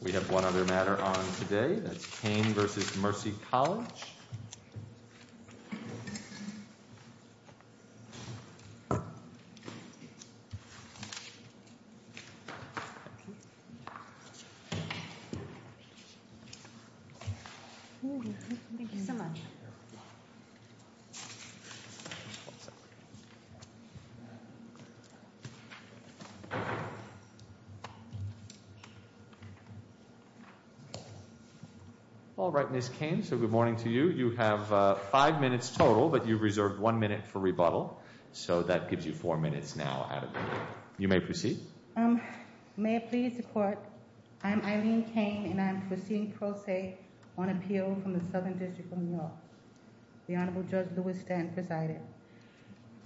We have one other matter on today, that's Cain v. Mercy College. Thank you so much. All right, Ms. Cain, so good morning to you. You have five minutes total, but you reserved one minute for rebuttal. So that gives you four minutes now, Adam. You may proceed. May I please report? I'm Eileen Cain, and I'm proceeding pro se on appeal from the Southern District of New York. The Honorable Judge Louis Stanton presiding.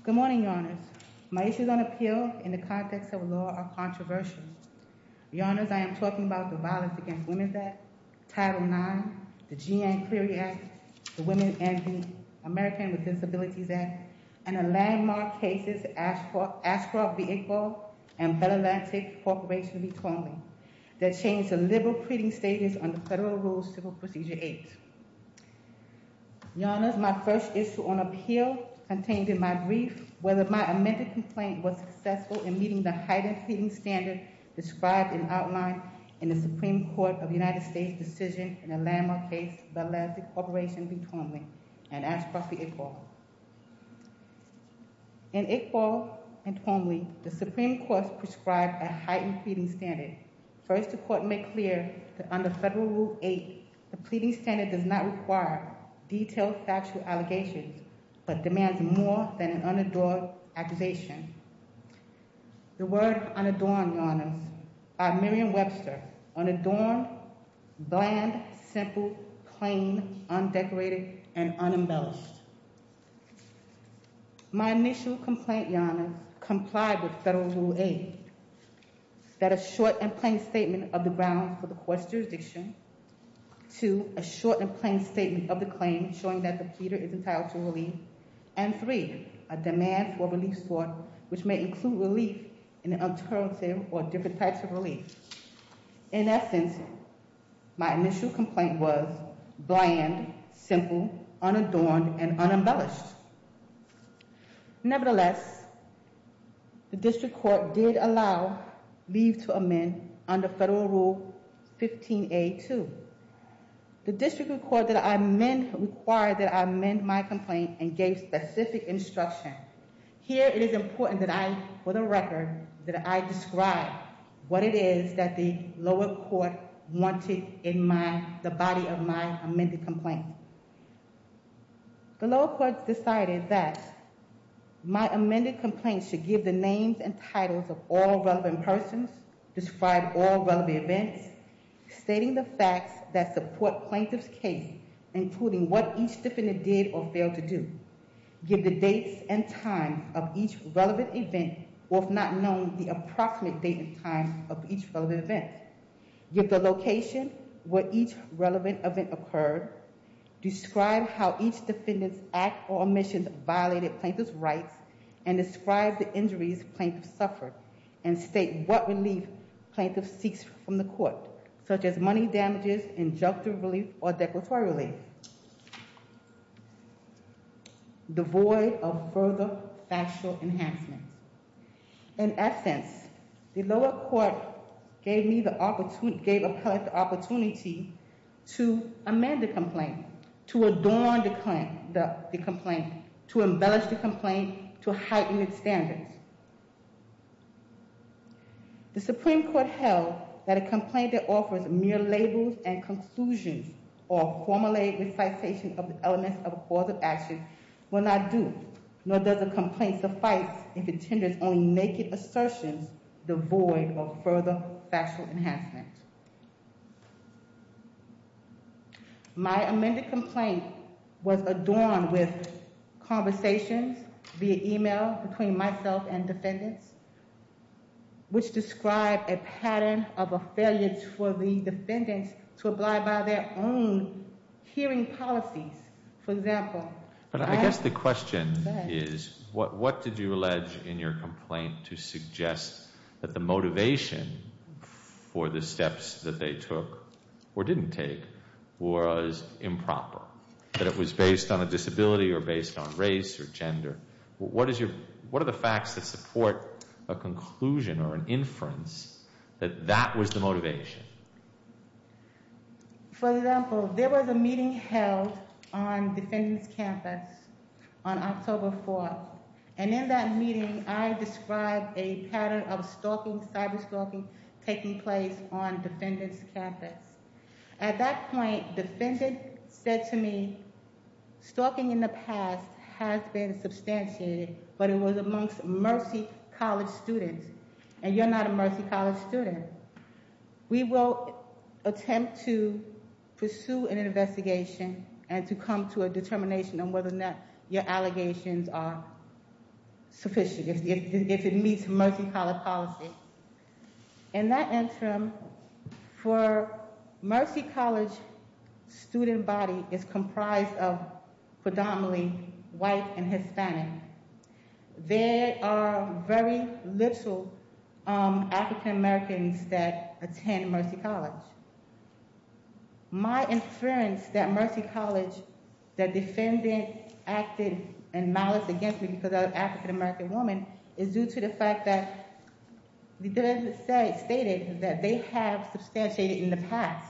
Good morning, Your Honors. My issues on appeal in the context of law are controversial. Your Honors, I am talking about the Violence Against Women Act, Title IX, the Jeanne Cleary Act, the Women and the American with Disabilities Act, and the landmark cases Ashcroft v. Iqbal and Bell Atlantic Corporation v. Twombly that changed the liberal pleading status under Federal Rule Civil Procedure 8. Your Honors, my first issue on appeal contained in my brief whether my amended complaint was successful in meeting the heightened pleading standard described and outlined in the Supreme Court of the United States decision in the landmark case Bell Atlantic Corporation v. Twombly and Ashcroft v. Iqbal. In Iqbal and Twombly, the Supreme Court prescribed a heightened pleading standard. First, the Court made clear that under Federal Rule 8, the pleading standard does not require detailed factual allegations but demands more than an unadorned accusation. The word unadorned, Your Honors, by Miriam Webster. Unadorned, bland, simple, plain, undecorated, and unembellished. My initial complaint, Your Honors, complied with Federal Rule 8 that a short and plain statement of the grounds for the court's jurisdiction Two, a short and plain statement of the claim showing that the pleader is entitled to relief. And three, a demand for a relief sword which may include relief in an alternative or different types of relief. In essence, my initial complaint was bland, simple, unadorned, and unembellished. Nevertheless, the District Court did allow leave to amend under Federal Rule 15A2. The District Court required that I amend my complaint and gave specific instruction. Here, it is important that I, for the record, that I describe what it is that the lower court wanted in the body of my amended complaint. The lower court decided that my amended complaint should give the names and titles of all relevant persons, describe all relevant events, stating the facts that support plaintiff's case, including what each defendant did or failed to do, give the dates and times of each relevant event, or if not known, the approximate date and time of each relevant event, give the location where each relevant event occurred, describe how each defendant's act or omission violated plaintiff's rights, and describe the injuries plaintiff suffered, and state what relief plaintiff seeks from the court, such as money damages, injunctive relief, or declaratory relief, devoid of further factual enhancements. In essence, the lower court gave me the opportunity to amend the complaint, to adorn the complaint, to embellish the complaint, to heighten its standards. The Supreme Court held that a complaint that offers mere labels and conclusions or a formulaic recitation of the elements of a cause of action will not do, nor does a complaint suffice if it tenders only naked assertions devoid of further factual enhancements. My amended complaint was adorned with conversations via e-mail between myself and defendants, which described a pattern of a failure for the defendants to apply by their own hearing policies. For example... But I guess the question is, what did you allege in your complaint to suggest that the motivation for the steps that they took, or didn't take, was improper? That it was based on a disability or based on race or gender? What are the facts that support a conclusion or an inference that that was the motivation? For example, there was a meeting held on defendants' campus on October 4th, and in that meeting I described a pattern of stalking, cyber-stalking, taking place on defendants' campus. At that point, defendants said to me, stalking in the past has been substantiated, but it was amongst Mercy College students, and you're not a Mercy College student. We will attempt to pursue an investigation and to come to a determination on whether or not your allegations are sufficient, if it meets Mercy College policy. In that interim, for Mercy College student body is comprised of predominantly white and Hispanic. There are very little African Americans that attend Mercy College. My inference that Mercy College, the defendant, acted in malice against me because I'm an African American woman, is due to the fact that the defendants stated that they have substantiated in the past,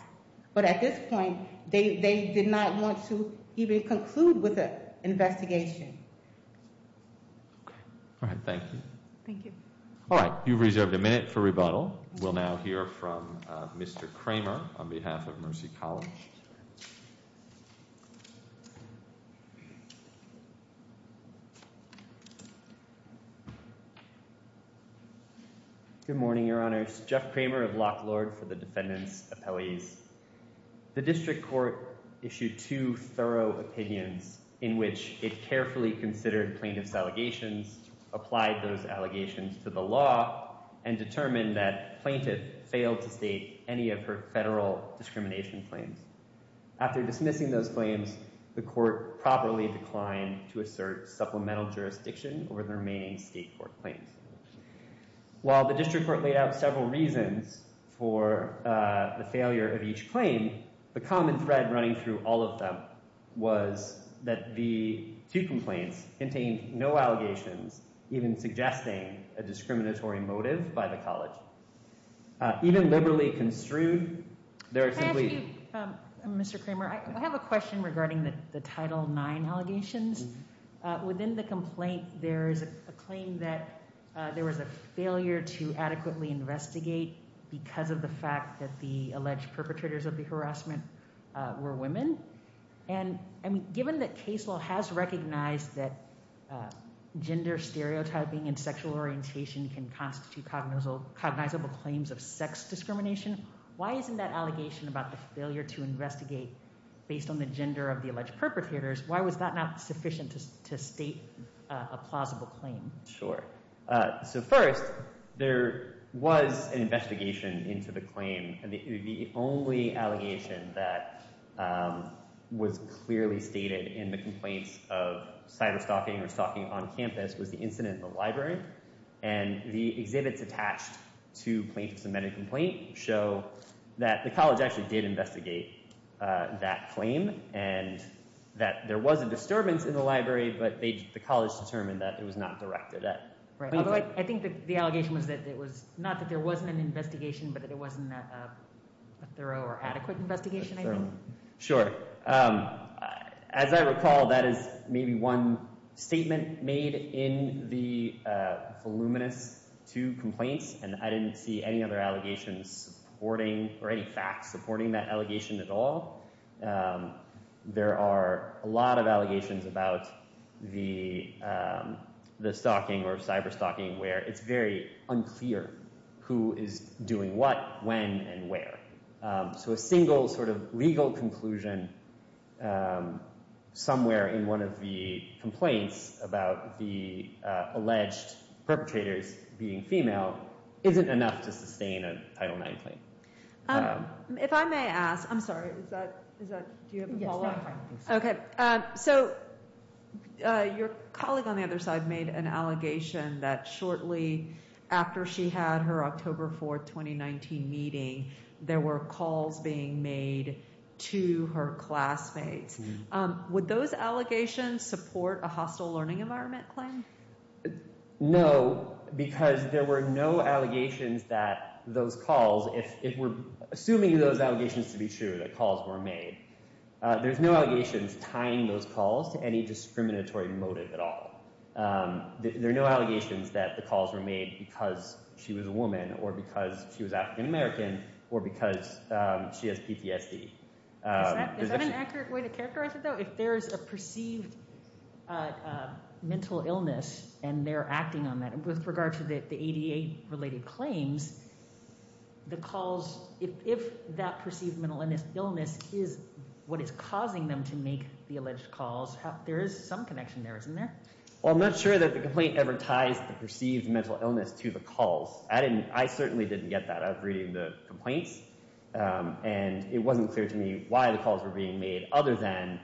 but at this point, they did not want to even conclude with an investigation. Alright, thank you. Thank you. Alright, you've reserved a minute for rebuttal. We'll now hear from Mr. Kramer on behalf of Mercy College. Good morning, Your Honors. Jeff Kramer of Lock Lord for the defendants' appellees. The district court issued two thorough opinions in which it carefully considered plaintiff's allegations, applied those allegations to the law, and determined that plaintiff failed to state any of her federal discrimination claims. After dismissing those claims, the court properly declined to assert supplemental jurisdiction over the remaining state court claims. While the district court laid out several reasons for the failure of each claim, the common thread running through all of them was that the two complaints contained no allegations, even suggesting a discriminatory motive by the college. Even liberally construed, there are simply... Can I ask you, Mr. Kramer, I have a question regarding the Title IX allegations. Within the complaint, there is a claim that there was a failure to adequately investigate because of the fact that the alleged perpetrators of the harassment were women. Given that case law has recognized that gender stereotyping and sexual orientation can constitute cognizable claims of sex discrimination, why isn't that allegation about the failure to investigate based on the gender of the alleged perpetrators, why was that not sufficient to state a plausible claim? Sure. So first, there was an investigation into the claim. The only allegation that was clearly stated in the complaints of cyber-stalking or stalking on campus was the incident in the library. And the exhibits attached to plaintiff's amended complaint show that the college actually did investigate that claim and that there was a disturbance in the library, but the college determined that it was not directed at... Although I think the allegation was that it was... a thorough or adequate investigation, I think. Sure. As I recall, that is maybe one statement made in the voluminous two complaints, and I didn't see any other allegations supporting or any facts supporting that allegation at all. There are a lot of allegations about the stalking or cyber-stalking where it's very unclear who is doing what, when, and where. So a single sort of legal conclusion somewhere in one of the complaints about the alleged perpetrators being female isn't enough to sustain a Title IX claim. If I may ask... I'm sorry, is that... Do you have a follow-up? Okay. So your colleague on the other side made an allegation that shortly after she had her October 4, 2019 meeting, there were calls being made to her classmates. Would those allegations support a hostile learning environment claim? No, because there were no allegations that those calls, if we're assuming those allegations to be true, that calls were made, there's no allegations tying those calls to any discriminatory motive at all. There are no allegations that the calls were made because she was a woman or because she was African American or because she has PTSD. Is that an accurate way to characterize it, though? If there is a perceived mental illness and they're acting on that, with regard to the ADA-related claims, the calls, if that perceived mental illness is what is causing them to make the alleged calls, there is some connection there, isn't there? Well, I'm not sure that the complaint ever ties the perceived mental illness to the calls. I certainly didn't get that. I was reading the complaints, and it wasn't clear to me why the calls were being made other than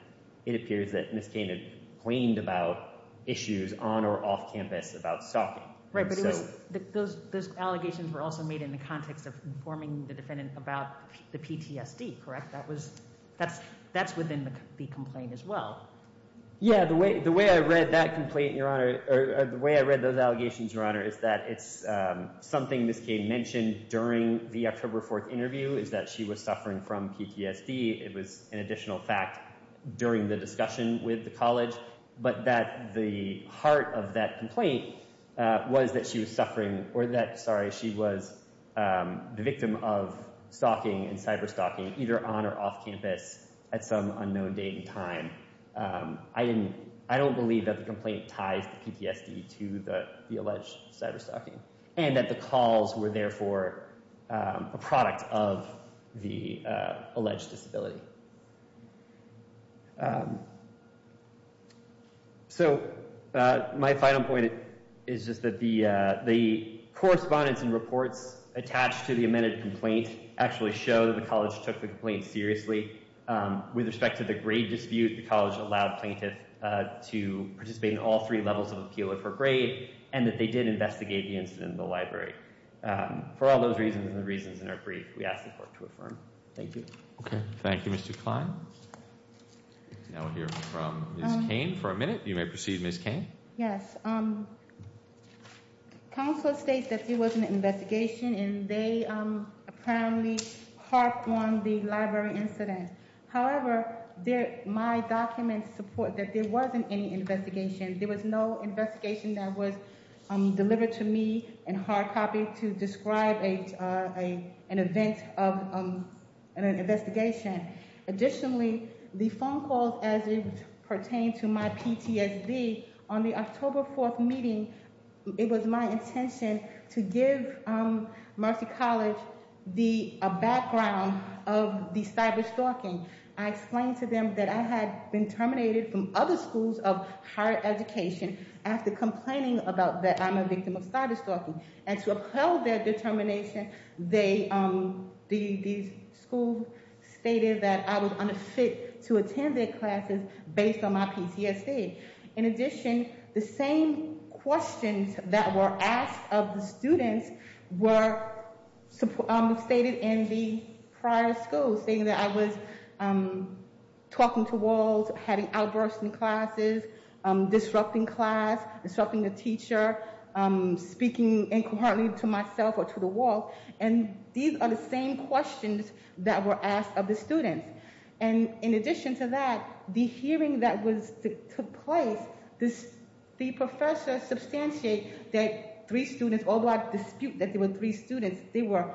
it appears that Ms. Kane had complained about issues on or off campus about stalking. Right, but those allegations were also made in the context of informing the defendant about the PTSD, correct? That's within the complaint as well. Yeah, the way I read that complaint, Your Honor, or the way I read those allegations, Your Honor, is that it's something Ms. Kane mentioned during the October 4th interview is that she was suffering from PTSD. It was an additional fact during the discussion with the college, but that the heart of that complaint was that she was suffering or that, sorry, she was the victim of stalking and cyber-stalking either on or off campus at some unknown date and time. I don't believe that the complaint ties the PTSD to the alleged cyber-stalking, and that the calls were therefore a product of the alleged disability. So my final point is just that the correspondence and reports attached to the amended complaint actually show that the college took the complaint seriously. With respect to the grade dispute, the college allowed plaintiffs to participate in all three levels of appeal for grade and that they did investigate the incident in the library. For all those reasons and the reasons in our brief, we ask the court to affirm. Thank you. Okay. Thank you, Mr. Kline. Now we'll hear from Ms. Kane for a minute. You may proceed, Ms. Kane. Yes. Counselor states that there was an investigation and they apparently harped on the library incident. However, my documents support that there wasn't any investigation. There was no investigation that was delivered to me in hard copy to describe an event of an investigation. Additionally, the phone calls as it pertained to my PTSD, on the October 4th meeting, it was my intention to give Mercy College a background of the cyberstalking. I explained to them that I had been terminated from other schools of higher education after complaining about that I'm a victim of cyberstalking. And to uphold their determination, the school stated that I was unfit to attend their classes based on my PTSD. In addition, the same questions that were asked of the students were stated in the prior school, stating that I was talking to walls, having outbursts in classes, disrupting class, disrupting the teacher, speaking incoherently to myself or to the wall. And these are the same questions that were asked of the students. In addition to that, the hearing that took place, the professor substantiated that three students, although I dispute that there were three students, there were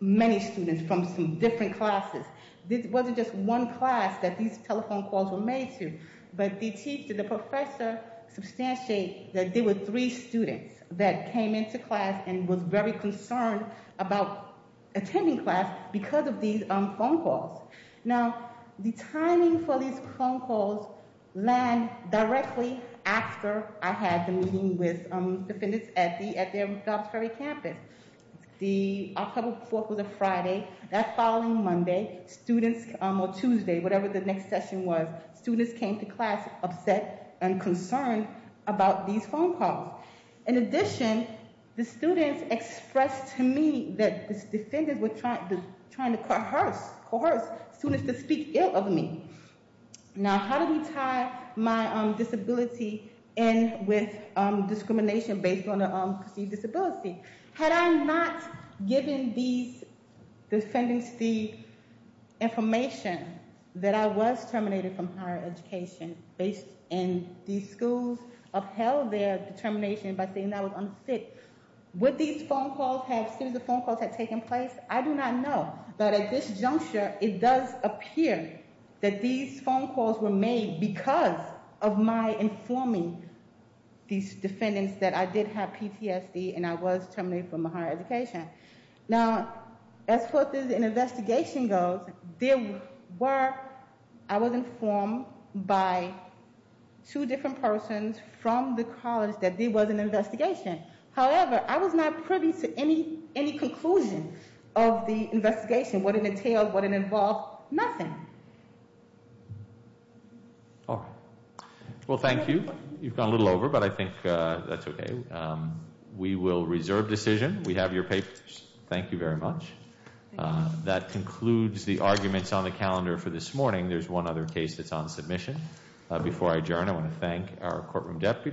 many students from some different classes. It wasn't just one class that these telephone calls were made to. But the teacher, the professor, substantiated that there were three students that came into class and were very concerned about attending class because of these phone calls. Now, the timing for these phone calls land directly after I had the meeting with the defendants at their Jobs Ferry campus. The October 4th was a Friday. That following Monday, students, or Tuesday, whatever the next session was, students came to class upset and concerned about these phone calls. In addition, the students expressed to me that these defendants were trying to coerce students to speak ill of me. Now, how do we tie my disability in with discrimination based on a perceived disability? Had I not given these defendants the information that I was terminated from higher education and these schools upheld their determination by saying I was unfit, would these phone calls have taken place? I do not know. But at this juncture, it does appear that these phone calls were made because of my informing these defendants that I did have PTSD and I was terminated from higher education. Now, as far as an investigation goes, there were... I was informed by two different persons from the college that there was an investigation. However, I was not privy to any conclusion of the investigation, what it entailed, what it involved, nothing. All right. Well, thank you. You've gone a little over, but I think that's okay. We will reserve decision. We have your papers. Thank you very much. Thank you. That concludes the arguments on the calendar for this morning. There's one other case that's on submission. Before I adjourn, I want to thank our courtroom deputies.